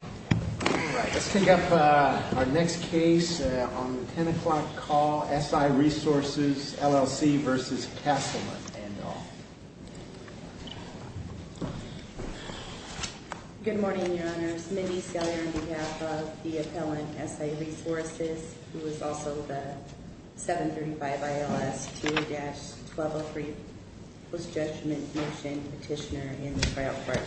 All right, let's take up our next case on the 10 o'clock call, S.I. Resources, LLC v. Castleman and all. Good morning, Your Honors. Mindy Seller on behalf of the appellant, S.I. Resources, who is also the 735 ILS 2-1203 post-judgment motion petitioner in the trial court.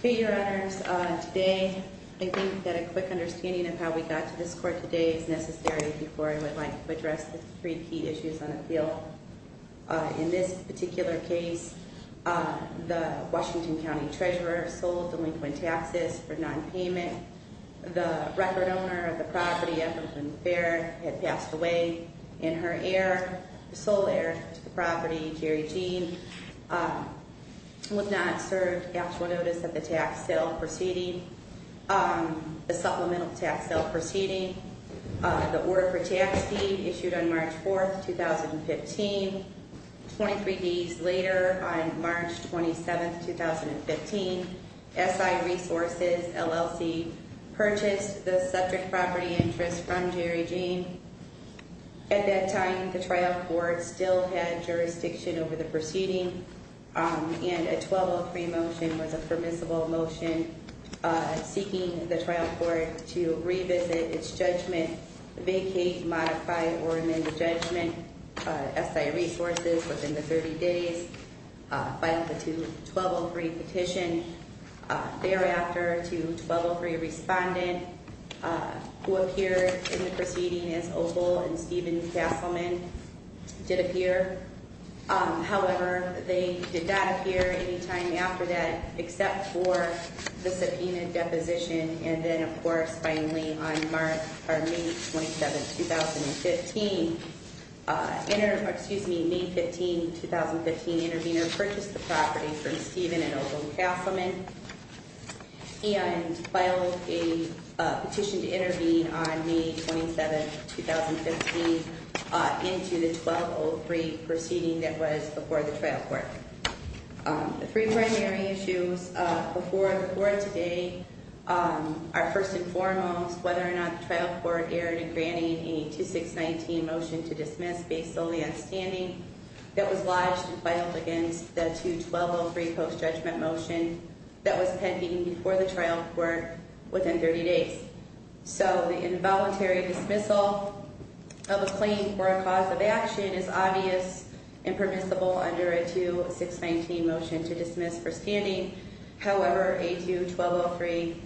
Okay, Your Honors, today I think that a quick understanding of how we got to this court today is necessary before I would like to address the three key issues on appeal. In this particular case, the Washington County Treasurer sold delinquent taxes for nonpayment. The record owner of the property, Ethel Lynn Barrett, had passed away in her heir, sole heir to the property, Jerry Jean, would not serve actual notice of the tax sale proceeding, the supplemental tax sale proceeding. The order for tax deed issued on March 4, 2015. Twenty-three days later, on March 27, 2015, S.I. Resources, LLC, purchased the subject property interest from Jerry Jean. At that time, the trial court still had jurisdiction over the proceeding, and a 1203 motion was a permissible motion seeking the trial court to revisit its judgment, vacate, modify, or amend the judgment. S.I. Resources, within the 30 days, filed the 1203 petition. Thereafter, a 1203 respondent, who appeared in the proceeding as Opal and Steven Castleman, did appear. However, they did not appear any time after that, except for the subpoenaed deposition. And then, of course, finally, on May 27, 2015, May 15, 2015, intervener purchased the property from Steven and Opal Castleman, and filed a petition to intervene on May 27, 2015, into the 1203 proceeding that was before the trial court. The three primary issues before the court today are, first and foremost, whether or not the trial court erred in granting a 2619 motion to dismiss based solely on standing that was lodged and filed against the 2203 post-judgment motion that was pending before the trial court within 30 days. So the involuntary dismissal of a claim for a cause of action is obvious and permissible under a 2619 motion to dismiss for standing. However, a 2123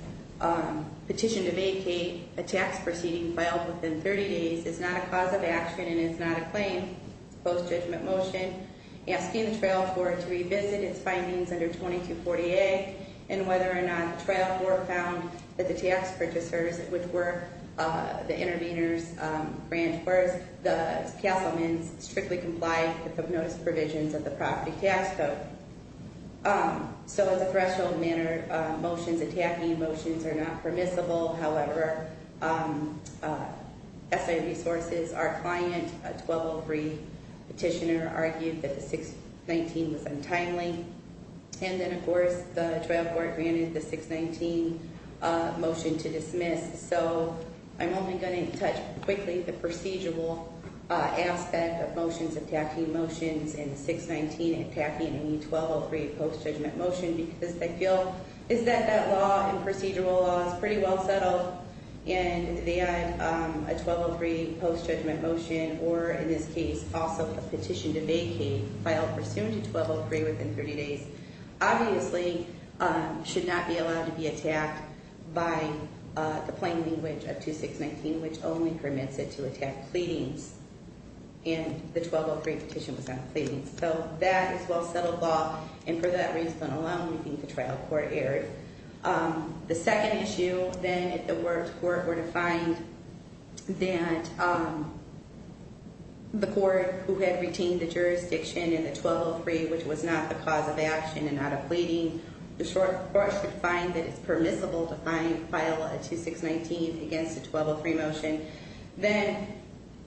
petition to vacate a tax proceeding filed within 30 days is not a cause of action and is not a claim. It's a post-judgment motion, asking the trial court to revisit its findings under 2240A and whether or not the trial court found that the tax purchasers, which were the interveners, granted a 2619 motion to dismiss, whereas the Castleman's strictly complied with the notice provisions of the property tax code. So as a threshold matter, motions attacking motions are not permissible. However, SIP sources, our client, a 1203 petitioner, argued that the 619 was untimely. And then, of course, the trial court granted the 619 motion to dismiss. So I'm only going to touch quickly the procedural aspect of motions attacking motions and 619 attacking any 1203 post-judgment motion because I feel is that that law and procedural law is pretty well settled. And they had a 1203 post-judgment motion or, in this case, also a petition to vacate filed pursuant to 1203 within 30 days. Obviously, should not be allowed to be attacked by the plain language of 2619, which only permits it to attack pleadings. And the 1203 petition was not pleading. So that is well settled law. And for that reason alone, we think the trial court erred. The second issue, then, if the court were to find that the court who had retained the jurisdiction in the 1203, which was not the cause of the action and not a pleading, the court should find that it's permissible to file a 2619 against a 1203 motion, then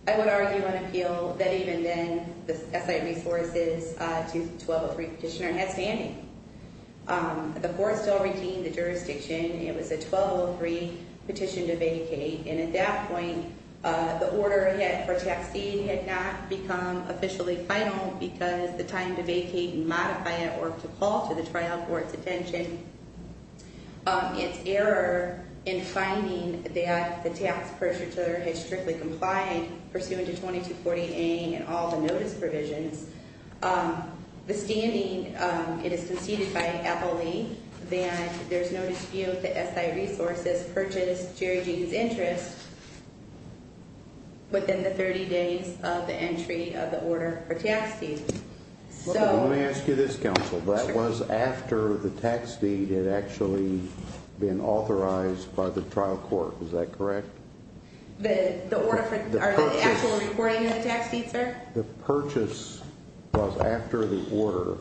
I would argue on appeal that even then the SI resources to the 1203 petitioner had standing. The court still retained the jurisdiction. It was a 1203 petition to vacate. And at that point, the order for taxing had not become officially final because the time to vacate and modify it were to call to the trial court's attention. It's error in finding that the tax pursuer had strictly complied pursuant to 2240A and all the notice provisions. The standing, it is conceded by Appleby that there's no dispute that SI resources purchased Jerry Gene's interest within the 30 days of the entry of the order for tax deed. Let me ask you this, counsel. That was after the tax deed had actually been authorized by the trial court. Is that correct? The order for the actual reporting of the tax deed, sir? The purchase was after the order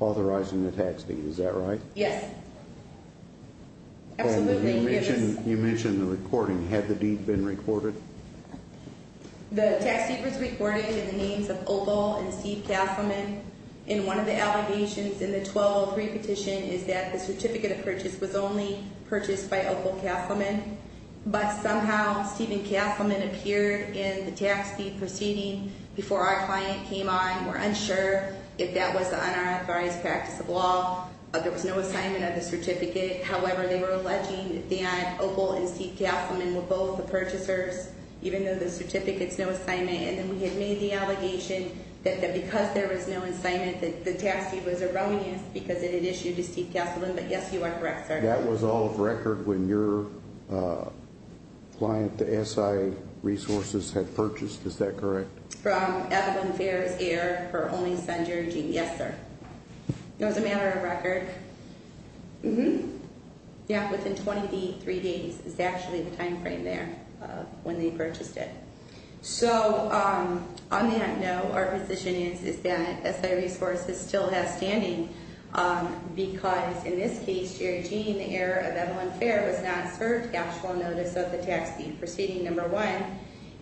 authorizing the tax deed. Is that right? Yes. Absolutely. You mentioned the recording. Had the deed been recorded? The tax deed was recorded in the names of Opal and Steve Castleman. And one of the allegations in the 1203 petition is that the certificate of purchase was only purchased by Opal Castleman. But somehow Steven Castleman appeared in the tax deed proceeding before our client came on. We're unsure if that was the unauthorized practice of law. There was no assignment of the certificate. However, they were alleging that Opal and Steve Castleman were both the purchasers, even though the certificate's no assignment. And then we had made the allegation that because there was no assignment, that the tax deed was erroneous because it had issued to Steve Castleman. But, yes, you are correct, sir. And that was all of record when your client, the SI Resources, had purchased. Is that correct? From Evidence Fair's heir, her only son, Jerry Jean. Yes, sir. It was a matter of record. Mm-hmm. Yeah, within 23 days is actually the time frame there when they purchased it. So, on that note, our position is that SI Resources still has standing because, in this case, Jerry Jean, the heir of Evelyn Fair, was not served actual notice of the tax deed proceeding, number one.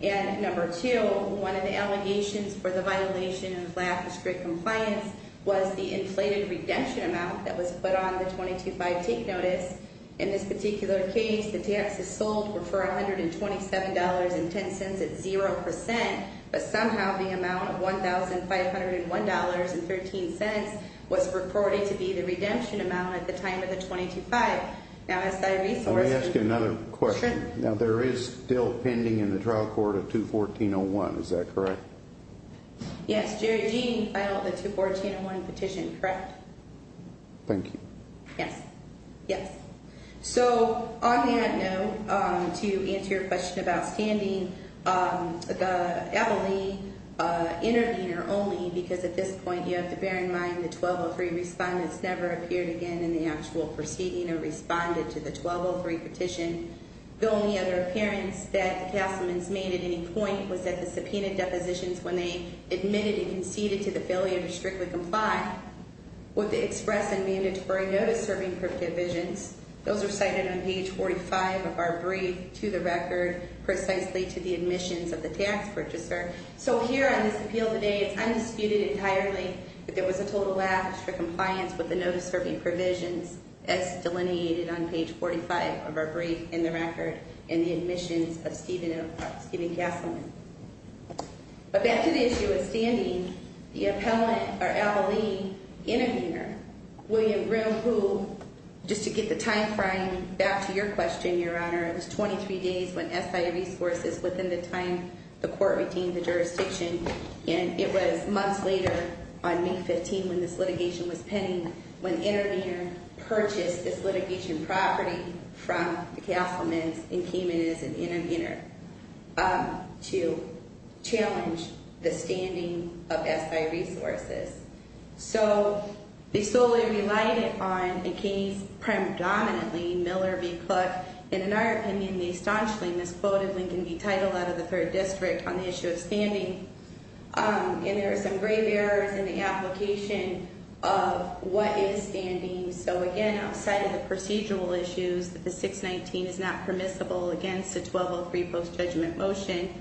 And, number two, one of the allegations for the violation of lack of strict compliance was the inflated redemption amount that was put on the 22-5 take notice. In this particular case, the taxes sold were for $127.10 at 0%, but somehow the amount of $1,501.13 was reported to be the redemption amount at the time of the 22-5. Now, SI Resources- Let me ask you another question. Sure. Now, there is still pending in the trial court a 214-01. Is that correct? Yes, Jerry Jean filed the 214-01 petition, correct? Thank you. Yes. Yes. So, on that note, to answer your question about standing, the Evelyn intervener only because, at this point, you have to bear in mind the 1203 respondents never appeared again in the actual proceeding or responded to the 1203 petition. The only other appearance that the Castleman's made at any point was at the subpoenaed depositions when they admitted and conceded to the failure to strictly comply with the express and mandatory notice-serving provisions. Those are cited on page 45 of our brief to the record, precisely to the admissions of the tax purchaser. So, here on this appeal today, it's undisputed entirely that there was a total lapse for compliance with the notice-serving provisions as delineated on page 45 of our brief in the record in the admissions of Steven Castleman. But back to the issue of standing, the appellant, or ability, intervener, William Graham Poole, just to get the time frame back to your question, Your Honor. It was 23 days when SI resources within the time the court retained the jurisdiction, and it was months later, on May 15, when this litigation was pending, when the intervener purchased this litigation property from the Castleman's and came in as an intervener to challenge the standing of SI resources. So, they solely relied on, and came predominantly, Miller v. Cluck. And in our opinion, they staunchly misquoted Lincoln v. Teitel out of the 3rd District on the issue of standing. And there are some grave errors in the application of what is standing. So, again, outside of the procedural issues, that the 619 is not permissible against a 1203 post-judgment motion.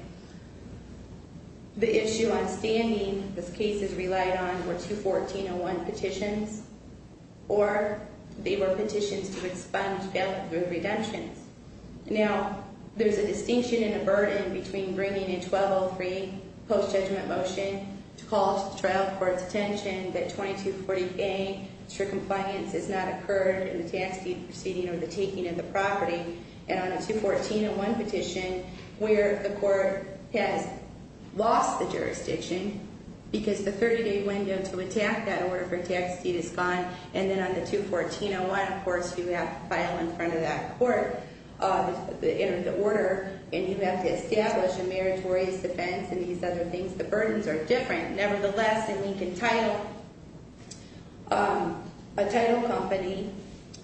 The issue on standing, this case is relied on, were two 1401 petitions, or they were petitions to expunge bail through redemptions. Now, there's a distinction and a burden between bringing a 1203 post-judgment motion to call the trial court's attention, that 2240A, it's for compliance, has not occurred in the tax deed proceeding or the taking of the property. And on a 21401 petition, where the court has lost the jurisdiction, because the 30-day window to attack that order for tax deed is gone. And then on the 21401, of course, you have to file in front of that court the order. And you have to establish a meritorious defense and these other things. The burdens are different. Nevertheless, in Lincoln-Teitel, a Teitel company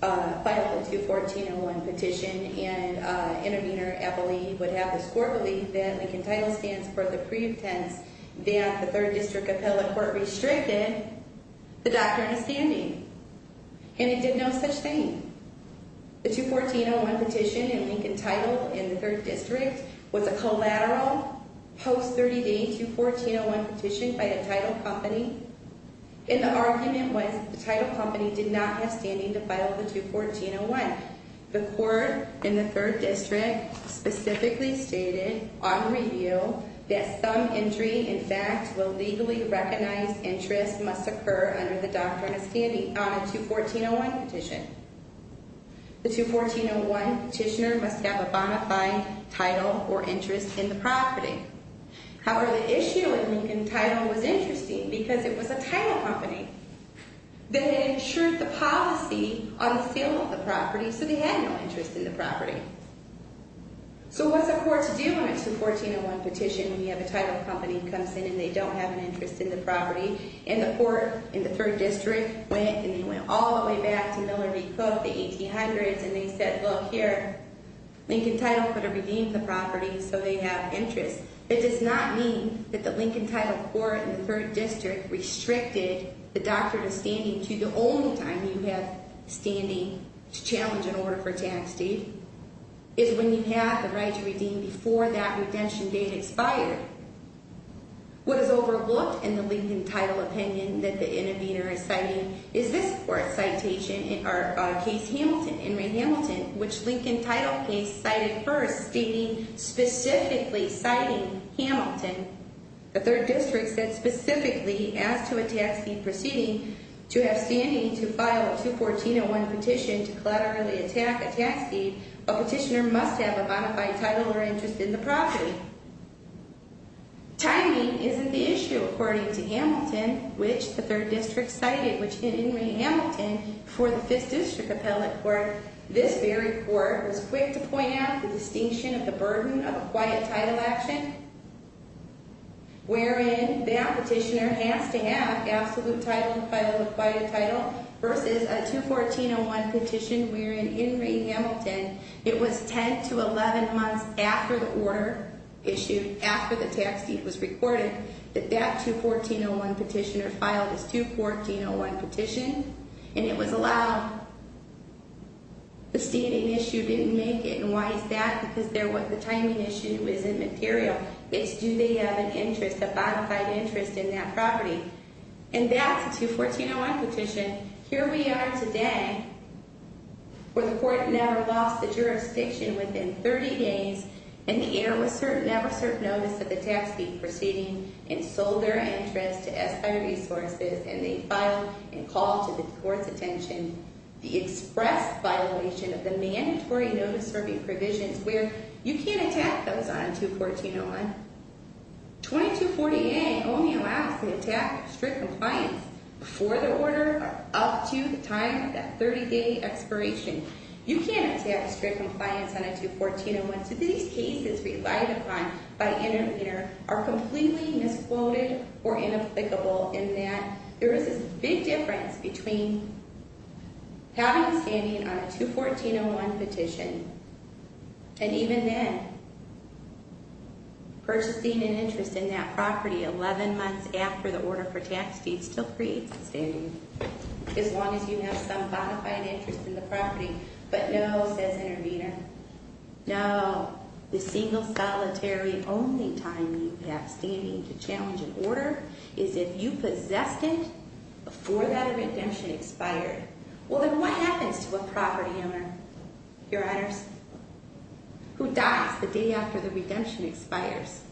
filed the 21401 petition. And intervener, Ebole, would have the score believe that Lincoln-Teitel stands for the pretense that the 3rd District Appellate Court restricted the doctrine of standing. And it did no such thing. The 21401 petition in Lincoln-Teitel in the 3rd District was a collateral post-30-day 21401 petition by a Teitel company. And the argument was that the Teitel company did not have standing to file the 21401. The court in the 3rd District specifically stated on review that some entry, in fact, will legally recognize interest must occur under the doctrine of standing on a 21401 petition. The 21401 petitioner must have a bona fide title or interest in the property. However, the issue in Lincoln-Teitel was interesting because it was a Teitel company. They insured the policy on sale of the property, so they had no interest in the property. So what's a court to do when it's a 21401 petition and you have a Teitel company comes in and they don't have an interest in the property? And the court in the 3rd District went and they went all the way back to Miller v. Cook, the 1800s, and they said, look, here, Lincoln-Teitel could have redeemed the property, so they have interest. It does not mean that the Lincoln-Teitel court in the 3rd District restricted the doctrine of standing to the only time you have standing to challenge an order for tax deed is when you have the right to redeem before that redemption date expired. What is overlooked in the Lincoln-Teitel opinion that the intervener is citing is this court's citation in our case Hamilton, Henry Hamilton, which Lincoln-Teitel case cited first stating specifically citing Hamilton. The 3rd District said specifically he asked to a tax deed proceeding to have standing to file a 21401 petition to collaterally attack a tax deed, a petitioner must have a bona fide title or interest in the property. Timing isn't the issue according to Hamilton, which the 3rd District cited, which in Henry Hamilton, for the 5th District appellate court, this very court was quick to point out the distinction of the burden of a quiet title action, wherein that petitioner has to have absolute title to file a quiet title, versus a 21401 petition wherein in Henry Hamilton, it was 10 to 11 months after the order issued, after the tax deed was recorded, that that 21401 petitioner filed his 21401 petition, and it was allowed, the standing issue didn't make it, and why is that? Because the timing issue isn't material, it's do they have an interest, a bona fide interest in that property, and that's a 21401 petition. Here we are today, where the court never lost the jurisdiction within 30 days, and never served notice of the tax deed proceeding, and sold their interest to SI Resources, and they filed and called to the court's attention the express violation of the mandatory notice-serving provisions where you can't attack those on a 21401. 2248A only allows the attack of strict compliance before the order, up to the time of that 30-day expiration. You can't attack strict compliance on a 21401, so these cases relied upon by intervener are completely misquoted or inapplicable in that there is this big difference between having standing on a 21401 petition, and even then, purchasing an interest in that property 11 months after the order for tax deed still creates a standing, as long as you have some bona fide interest in the property, but no, says intervener, no, the single solitary only time you have standing to challenge an order is if you possessed it before that redemption expired. Well, then what happens to a property owner, your honors, who dies the day after the redemption expires?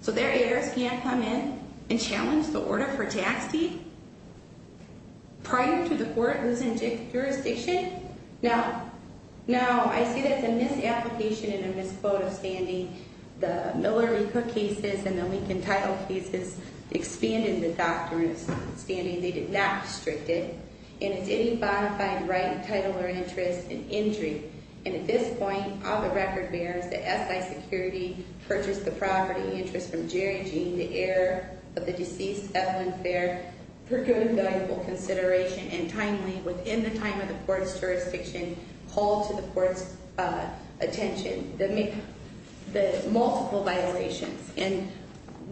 So their heirs can't come in and challenge the order for tax deed prior to the court losing jurisdiction? No. No, I see there's a misapplication and a misquote of standing. The Miller v. Cook cases and the Lincoln title cases expanded the doctrine of standing. They did not restrict it. And it's any bona fide right, title, or interest in injury. And at this point, all the record bears that SI security purchased the property interest from Jerry Jean, the heir of the deceased Evelyn Fair, for good and valuable consideration, and timely, within the time of the court's jurisdiction, hold to the court's attention. They make the multiple violations. And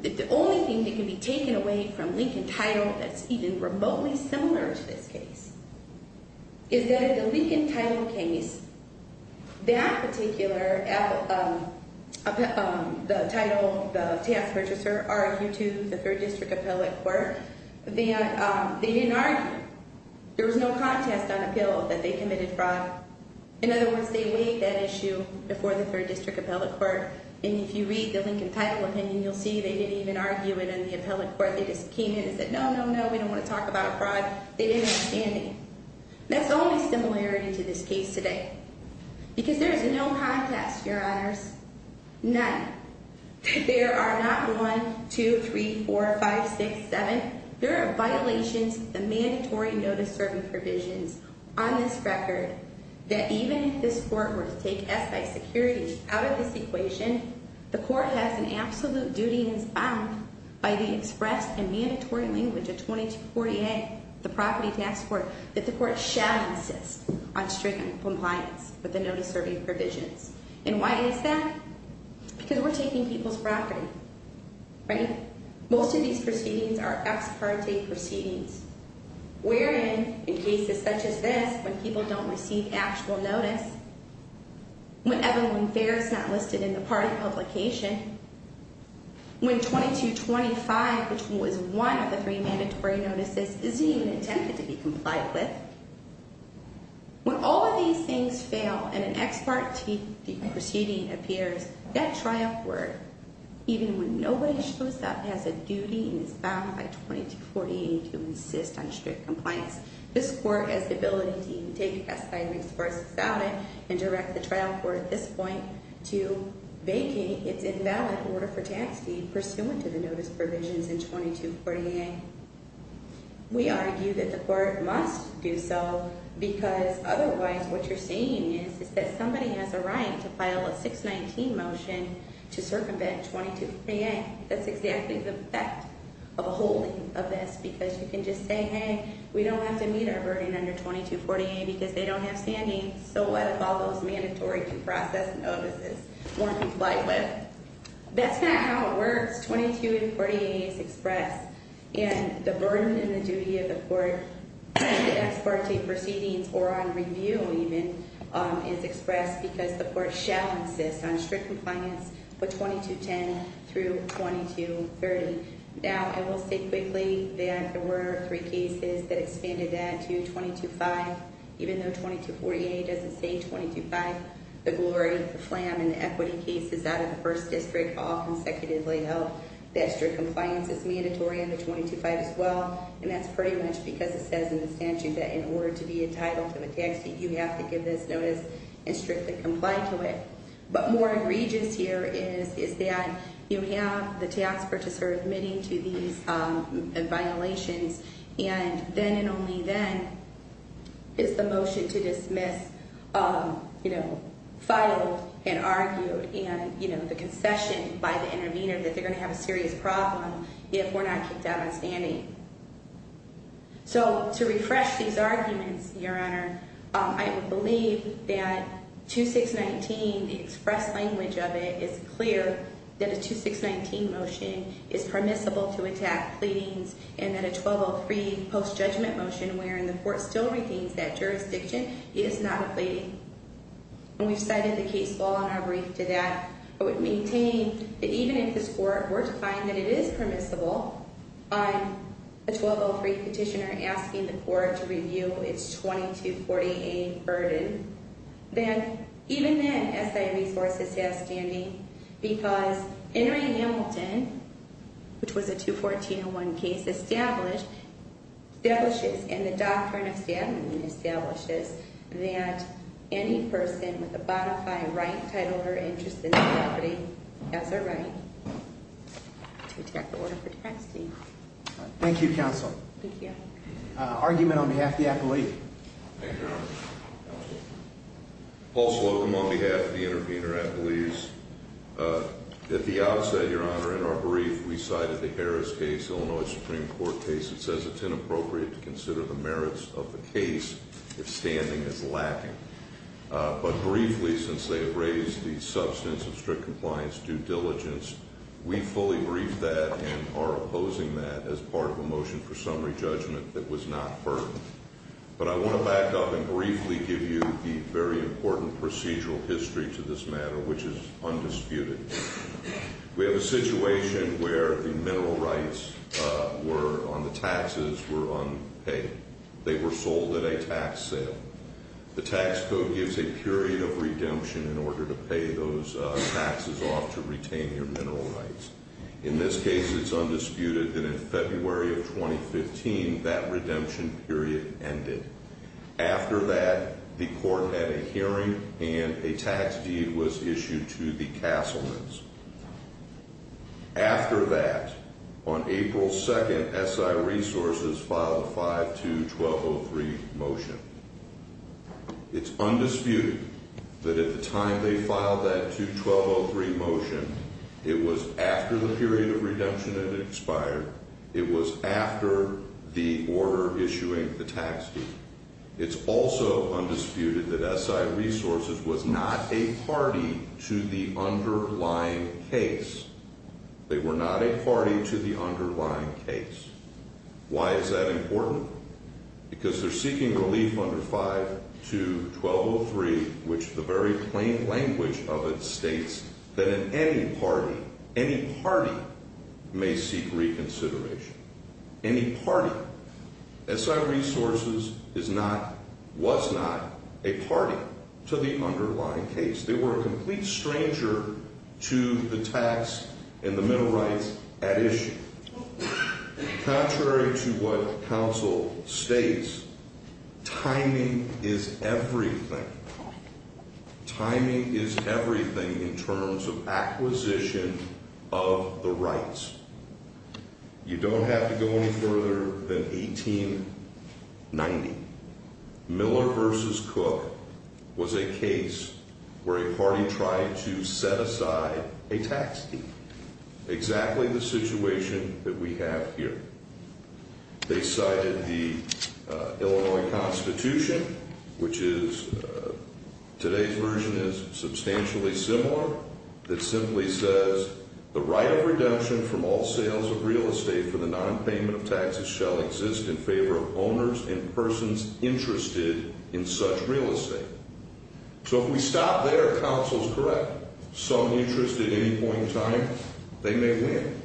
the only thing that can be taken away from Lincoln title that's even remotely similar to this case is that in the Lincoln title case, that particular, the title, the tax purchaser argued to the third district appellate court that they didn't argue. There was no contest on appeal that they committed fraud. In other words, they weighed that issue before the third district appellate court. And if you read the Lincoln title opinion, you'll see they didn't even argue it in the appellate court. They just came in and said, no, no, no, we don't want to talk about a fraud. They didn't have standing. That's the only similarity to this case today. Because there is no contest, your honors. None. There are not one, two, three, four, five, six, seven. There are violations of the mandatory notice serving provisions on this record that even if this court were to take SI security out of this equation, the court has an absolute duty and is bound by the express and mandatory language of 2248, the property tax court. That the court shall insist on strict compliance with the notice serving provisions. And why is that? Because we're taking people's property, right? Most of these proceedings are ex parte proceedings. We're in in cases such as this, when people don't receive actual notice. When everyone fares not listed in the party publication. When 2225, which was one of the three mandatory notices, isn't even intended to be complied with. When all of these things fail and an ex parte proceeding appears, that trial court, even when nobody shows up, has a duty and is bound by 2248 to insist on strict compliance. This court has the ability to take SI and express without it and direct the trial court at this point to vacate its invalid order for tax deed pursuant to the notice provisions in 2248. We argue that the court must do so because otherwise what you're saying is that somebody has a right to file a 619 motion to circumvent 2248. Hey, that's exactly the effect of a holding of this because you can just say, hey, we don't have to meet our burden under 2248 because they don't have standing. So what if all those mandatory due process notices weren't complied with? That's not how it works. 2248 is expressed. And the burden and the duty of the court, the ex parte proceedings or on review even, is expressed because the court shall insist on strict compliance for 2210 through 2230. Now, I will say quickly that there were three cases that expanded that to 225. Even though 2248 doesn't say 225, the glory, the flam and the equity cases out of the first district all consecutively held that strict compliance is mandatory under 225 as well. And that's pretty much because it says in the statute that in order to be entitled to a tax deed, you have to give this notice and strictly comply to it. But more egregious here is that you have the tax purchaser admitting to these violations and then and only then is the motion to dismiss filed and argued and the concession by the intervener that they're going to have a serious problem if we're not kicked out on standing. So to refresh these arguments, Your Honor, I would believe that 2619, the express language of it, is clear that a 2619 motion is permissible to attack pleadings and that a 1203 post judgment motion wherein the court still redeems that jurisdiction is not a pleading. And we've cited the case law in our brief to that, but we've maintained that even if this court were to find that it is permissible on a 1203 petitioner asking the court to review its 2248 burden, then even then, I believe that the SI resources have standing because Henry Hamilton, which was a 21401 case, establishes in the doctrine of standing, establishes that any person with a bona fide right, title, or interest in the property has a right to attack the order for tax deed. Thank you, Counsel. Thank you. Argument on behalf of the appellee. Thank you, Your Honor. Paul Slocum on behalf of the intervener. I believe that the outset, Your Honor, in our brief, we cited the Harris case, Illinois Supreme Court case. It says it's inappropriate to consider the merits of the case if standing is lacking. But briefly, since they have raised the substance of strict compliance due diligence, we fully brief that and are opposing that as part of a motion for summary judgment that was not heard. But I want to back up and briefly give you the very important procedural history to this matter, which is undisputed. We have a situation where the mineral rights were on the taxes were unpaid. They were sold at a tax sale. The tax code gives a period of redemption in order to pay those taxes off to retain your mineral rights. In this case, it's undisputed that in February of 2015, that redemption period ended. After that, the court had a hearing and a tax deed was issued to the Castleman's. After that, on April 2nd, SI Resources filed a 5-2-12-0-3 motion. It's undisputed that at the time they filed that 2-12-0-3 motion, it was after the period of redemption had expired. It was after the order issuing the tax deed. It's also undisputed that SI Resources was not a party to the underlying case. They were not a party to the underlying case. Why is that important? Because they're seeking relief under 5-2-12-0-3, which the very plain language of it states that in any party, any party may seek reconsideration. Any party. SI Resources is not, was not, a party to the underlying case. They were a complete stranger to the tax and the mineral rights at issue. Contrary to what counsel states, timing is everything. Timing is everything in terms of acquisition of the rights. You don't have to go any further than 1890. Miller v. Cook was a case where a party tried to set aside a tax deed. Exactly the situation that we have here. They cited the Illinois Constitution, which is, today's version is substantially similar. It simply says, the right of redemption from all sales of real estate for the nonpayment of taxes shall exist in favor of owners and persons interested in such real estate. So if we stop there, counsel's correct. Some interest at any point in time, they may win.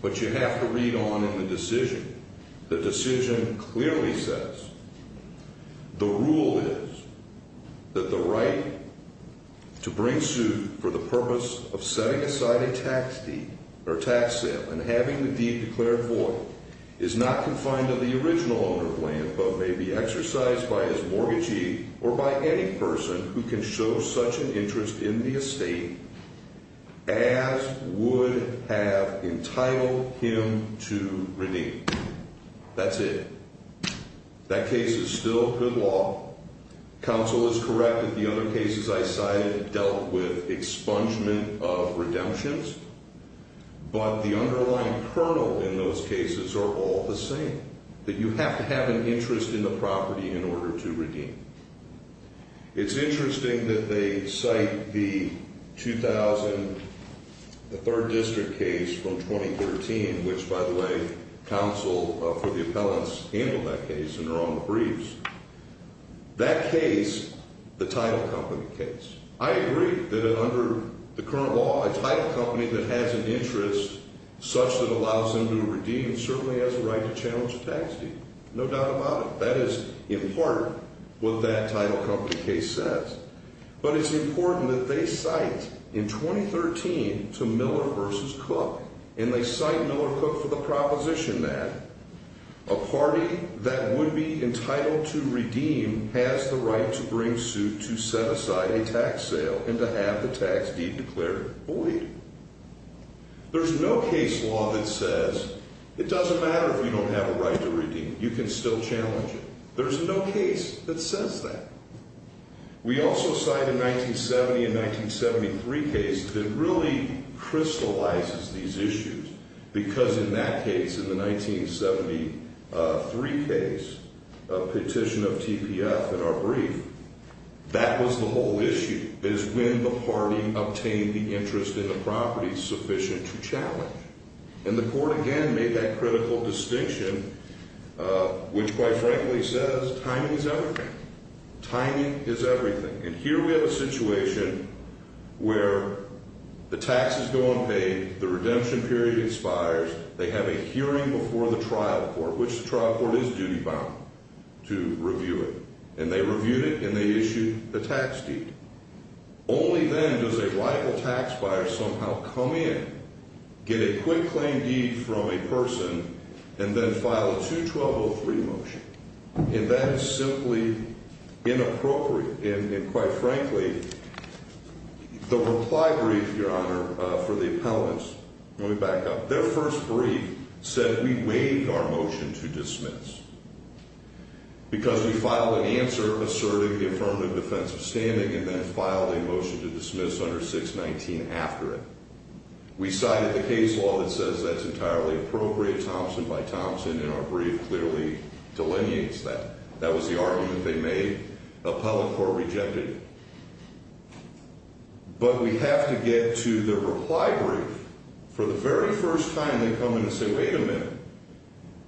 But you have to read on in the decision. The decision clearly says, the rule is that the right to bring suit for the purpose of setting aside a tax deed or tax sale and having the deed declared void is not confined to the original owner of land, but may be exercised by his mortgagee or by any person who can show such an interest in the estate as would have entitled him to redeem. That's it. That case is still good law. Counsel is correct that the other cases I cited dealt with expungement of redemptions. But the underlying kernel in those cases are all the same, that you have to have an interest in the property in order to redeem. It's interesting that they cite the 2000, the third district case from 2013, which, by the way, counsel for the appellants handled that case and are on the briefs. That case, the title company case. I agree that under the current law, a title company that has an interest such that allows them to redeem certainly has a right to challenge a tax deed. No doubt about it. That is, in part, what that title company case says. But it's important that they cite, in 2013, to Miller v. Cook, and they cite Miller-Cook for the proposition that a party that would be entitled to redeem has the right to bring suit to set aside a tax sale and to have the tax deed declared void. There's no case law that says it doesn't matter if you don't have a right to redeem, you can still challenge it. There's no case that says that. We also cite a 1970 and 1973 case that really crystallizes these issues because in that case, in the 1973 case, a petition of TPF in our brief, that was the whole issue, is when the party obtained the interest in the property sufficient to challenge. And the court, again, made that critical distinction, which, quite frankly, says timing is everything. Timing is everything. And here we have a situation where the taxes go unpaid, the redemption period expires, they have a hearing before the trial court, which the trial court is duty-bound to review it. And they reviewed it, and they issued the tax deed. Only then does a rival tax buyer somehow come in, get a quick claim deed from a person, and then file a 2-1203 motion. And that is simply inappropriate. And, quite frankly, the reply brief, Your Honor, for the appellants, let me back up, their first brief said we waived our motion to dismiss because we filed an answer asserting the affirmative defense of standing. And then filed a motion to dismiss under 619 after it. We cited the case law that says that's entirely appropriate, Thompson by Thompson, and our brief clearly delineates that. That was the argument they made. The appellant court rejected it. But we have to get to the reply brief. For the very first time, they come in and say, wait a minute,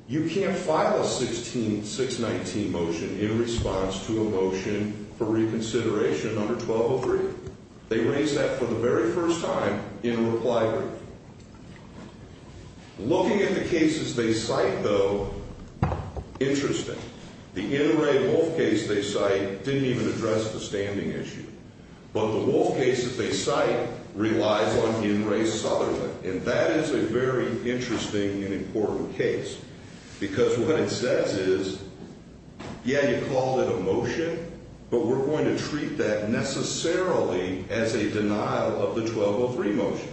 you can't file a 619 motion in response to a motion for reconsideration under 1203. They raise that for the very first time in a reply brief. Looking at the cases they cite, though, interesting. The N. Ray Wolfe case they cite didn't even address the standing issue. But the Wolfe case that they cite relies on N. Ray Southerland. And that is a very interesting and important case. Because what it says is, yeah, you called it a motion, but we're going to treat that necessarily as a denial of the 1203 motion.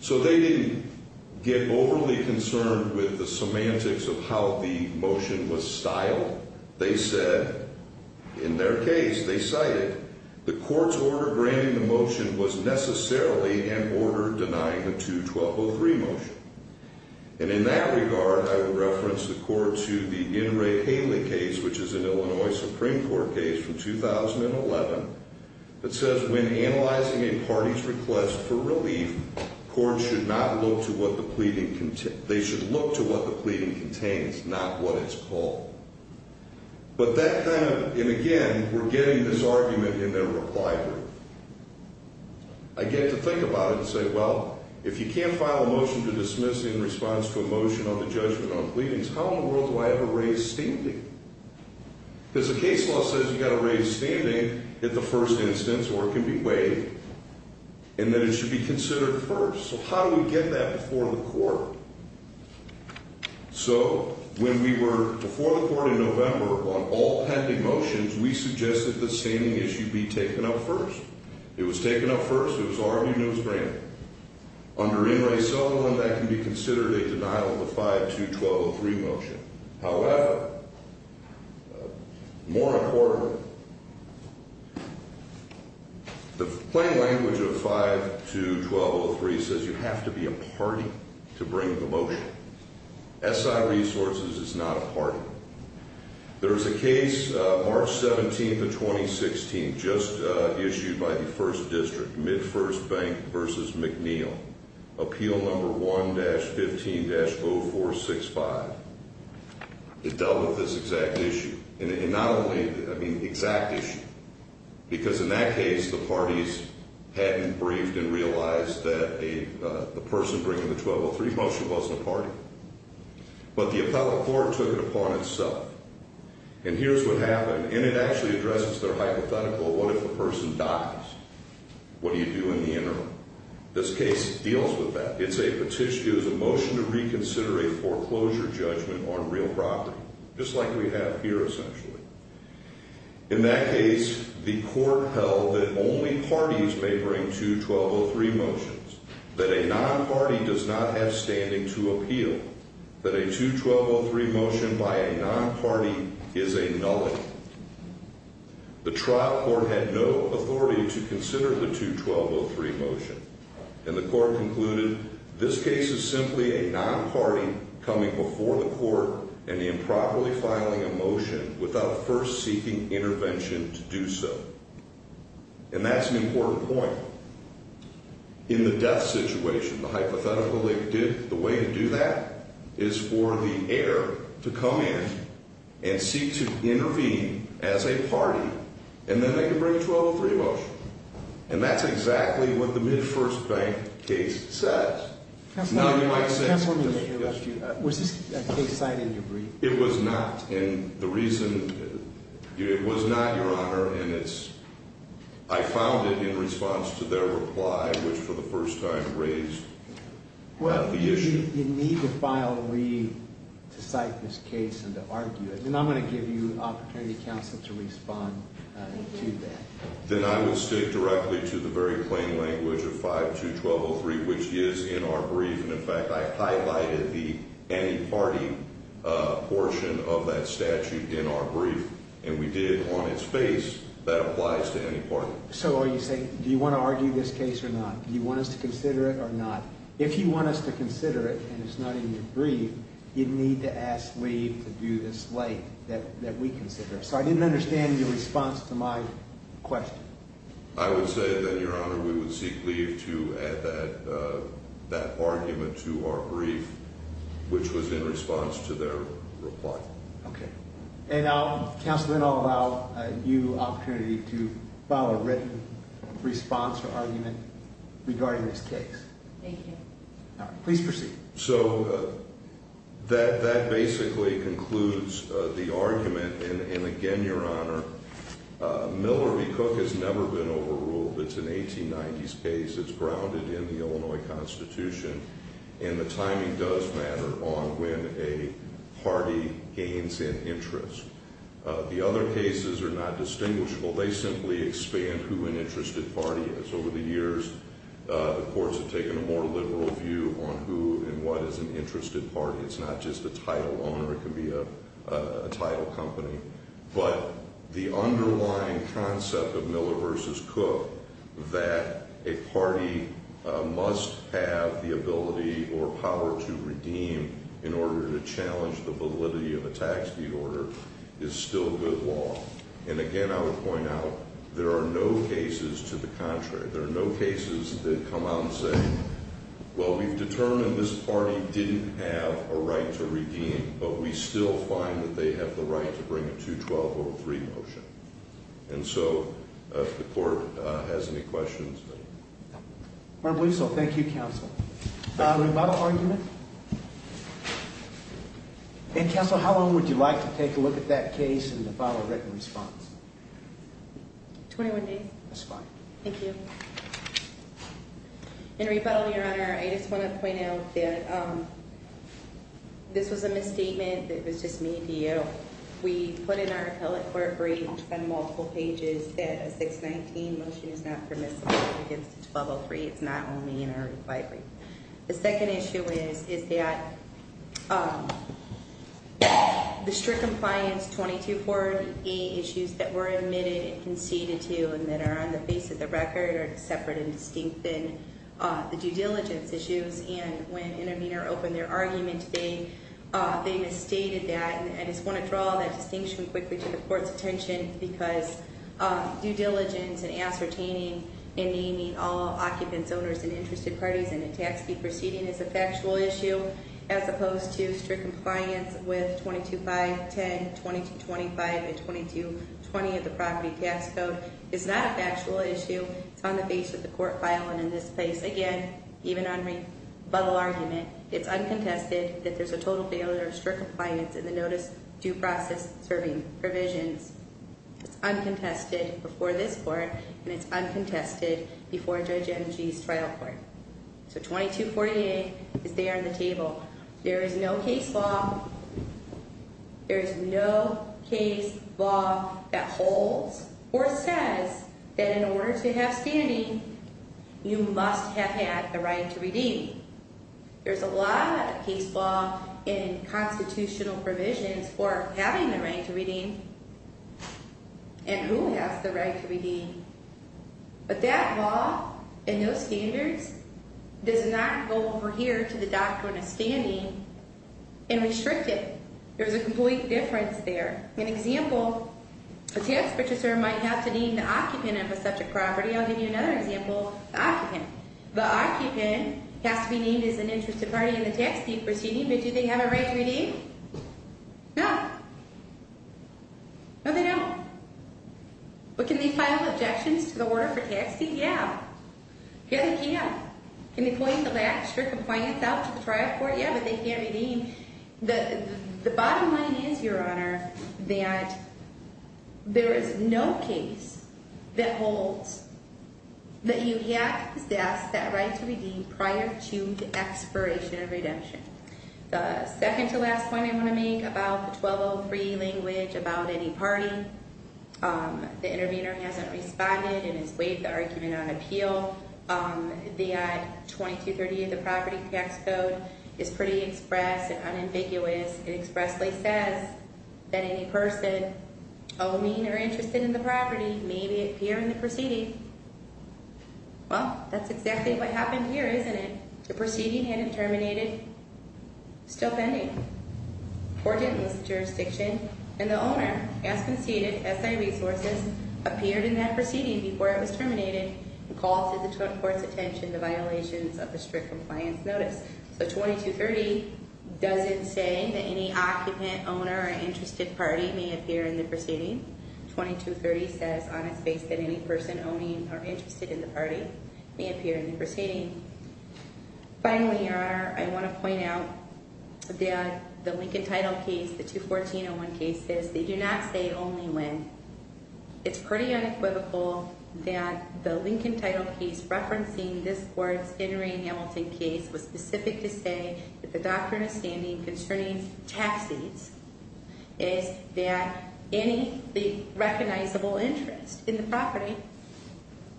So they didn't get overly concerned with the semantics of how the motion was styled. They said, in their case, they cited, the court's order granting the motion was necessarily an order denying the 21203 motion. And in that regard, I would reference the court to the N. Ray Haley case, which is an Illinois Supreme Court case from 2011. It says, when analyzing a party's request for relief, courts should not look to what the pleading, they should look to what the pleading contains, not what it's called. But that kind of, and again, we're getting this argument in their reply brief. I get to think about it and say, well, if you can't file a motion to dismiss in response to a motion on the judgment on pleadings, how in the world do I ever raise standing? Because the case law says you've got to raise standing at the first instance, or it can be waived, and that it should be considered first. So how do we get that before the court? So when we were before the court in November on all pending motions, we suggested the standing issue be taken up first. It was taken up first. It was argued and it was granted. Under N. Ray Sullivan, that can be considered a denial of the 5212 motion. However, more importantly, the plain language of 5212-03 says you have to be a party to bring the motion. SI Resources is not a party. There's a case, March 17th of 2016, just issued by the first district. Midfirst Bank versus McNeil. Appeal number 1-15-0465. It dealt with this exact issue. And not only, I mean, exact issue. Because in that case, the parties hadn't briefed and realized that the person bringing the 1203 motion wasn't a party. But the appellate court took it upon itself. And here's what happened. And it actually addresses their hypothetical, what if the person dies? What do you do in the interim? This case deals with that. It's a petition. It was a motion to reconsider a foreclosure judgment on real property. Just like we have here, essentially. In that case, the court held that only parties may bring 2203 motions. That a non-party does not have standing to appeal. That a 2203 motion by a non-party is a nullity. The trial court had no authority to consider the 2203 motion. And the court concluded, this case is simply a non-party coming before the court and improperly filing a motion without first seeking intervention to do so. And that's an important point. In the death situation, the hypothetical they did, the way to do that is for the heir to come in and seek to intervene as a party. And then they can bring a 2203 motion. And that's exactly what the mid-first bank case says. It's not in my sense. Counselor, let me interrupt you. Was this case cited in your brief? It was not. And the reason, it was not, Your Honor. And it's, I found it in response to their reply, which for the first time raised the issue. Well, you need to file a read to cite this case and to argue it. And I'm going to give you an opportunity, counsel, to respond to that. Then I will stick directly to the very plain language of 521203, which is in our brief. And, in fact, I highlighted the anti-party portion of that statute in our brief. And we did it on its face. That applies to any party. So are you saying, do you want to argue this case or not? Do you want us to consider it or not? If you want us to consider it and it's not in your brief, you need to ask Lee to do this light that we consider. So I didn't understand your response to my question. I would say that, Your Honor, we would seek leave to add that argument to our brief, which was in response to their reply. Okay. And I'll, counsel, then I'll allow you an opportunity to file a written response or argument regarding this case. Thank you. Please proceed. So that basically concludes the argument. And, again, Your Honor, Miller v. Cook has never been overruled. It's an 1890s case. It's grounded in the Illinois Constitution. And the timing does matter on when a party gains an interest. The other cases are not distinguishable. They simply expand who an interested party is. Over the years, the courts have taken a more liberal view on who and what is an interested party. It's not just a title owner. It can be a title company. But the underlying concept of Miller v. Cook, that a party must have the ability or power to redeem in order to challenge the validity of a tax deed order, is still good law. And, again, I would point out there are no cases to the contrary. There are no cases that come out and say, well, we've determined this party didn't have a right to redeem, but we still find that they have the right to bring a 212-03 motion. And so if the court has any questions. I believe so. Thank you, counsel. Thank you. And, counsel, how long would you like to take a look at that case and file a written response? 21 days. That's fine. Thank you. In rebuttal, Your Honor, I just want to point out that this was a misstatement that was just made to you. We put in our appellate court brief on multiple pages that a 619 motion is not permissible against a 1203. It's not only in our rebuttal. The second issue is that the strict compliance 2248 issues that were admitted and conceded to and that are on the face of the record are separate and distinct than the due diligence issues. And when Intervenor opened their argument, they misstated that. And I just want to draw that distinction quickly to the court's attention because due diligence and ascertaining and naming all occupants, owners, and interested parties in a tax fee proceeding is a factual issue, as opposed to strict compliance with 225, 10, 2225, and 2220 of the property tax code is not a factual issue. It's on the face of the court file and in this case, again, even on rebuttal argument, it's uncontested that there's a total failure of strict compliance in the notice due process serving provisions. It's uncontested before this court and it's uncontested before Judge Energy's trial court. So 2248 is there on the table. There is no case law. There is no case law that holds or says that in order to have standing, you must have had the right to redeem. There's a lot of case law in constitutional provisions for having the right to redeem and who has the right to redeem. But that law and those standards does not go over here to the doctrine of standing and restrict it. There's a complete difference there. An example, a tax purchaser might have to name the occupant of a subject property. I'll give you another example, the occupant. The occupant has to be named as an interested party in the tax deed proceeding, but do they have a right to redeem? No. No, they don't. But can they file objections to the order for tax deed? Yeah. Yeah, they can. Can they point the lack of strict compliance out to the trial court? Yeah, but they can't redeem. The bottom line is, Your Honor, that there is no case that holds that you have to possess that right to redeem prior to the expiration of redemption. The second to last point I want to make about the 1203 language about any party, the intervener hasn't responded and has waived the argument on appeal. The 2238 of the property tax code is pretty express and unambiguous. It expressly says that any person owing or interested in the property may be appearing in the proceeding. Well, that's exactly what happened here, isn't it? The proceeding hadn't terminated. Still pending. Or didn't in this jurisdiction. And the owner, as conceded, SI Resources, appeared in that proceeding before it was terminated and called to the court's attention the violations of the strict compliance notice. So 2230 doesn't say that any occupant, owner, or interested party may appear in the proceeding. 2230 says on its face that any person owning or interested in the party may appear in the proceeding. Finally, Your Honor, I want to point out that the Lincoln title case, the 21401 case, says they do not say only when. It's pretty unequivocal that the Lincoln title case referencing this court's Henry and Hamilton case was specific to say that the doctrine of standing concerning tax seats is that any recognizable interest in the property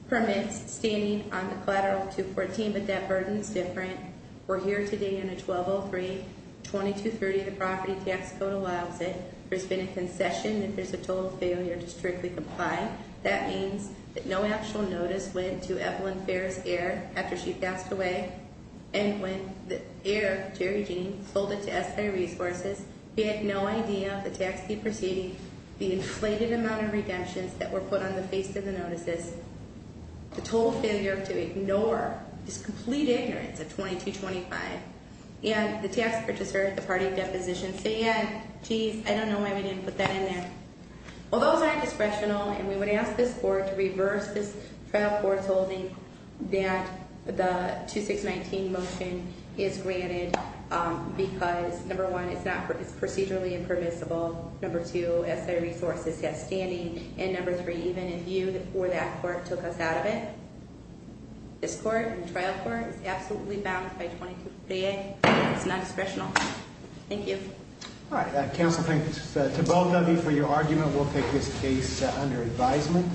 permits standing on the collateral 21401. But that burden is different. We're here today in a 1203. 2230, the property tax code allows it. There's been a concession if there's a total failure to strictly comply. That means that no actual notice went to Evelyn Ferris Eyre after she passed away. And when the heir, Jerry Jean, sold it to SI Resources, he had no idea of the tax deed proceeding, the inflated amount of redemptions that were put on the face of the notices, the total failure to ignore this complete ignorance of 2225. And the tax purchaser at the party deposition said, geez, I don't know why we didn't put that in there. Well, those are indiscretional, and we would ask this court to reverse this trial court's holding that the 2619 motion is granted because, number one, it's procedurally impermissible. Number two, SI Resources has standing. And number three, even if you or that court took us out of it, this court and trial court is absolutely bound by 223A. It's non-discretional. Thank you. All right. Counsel, thanks to both of you for your argument. We'll take this case under advisement.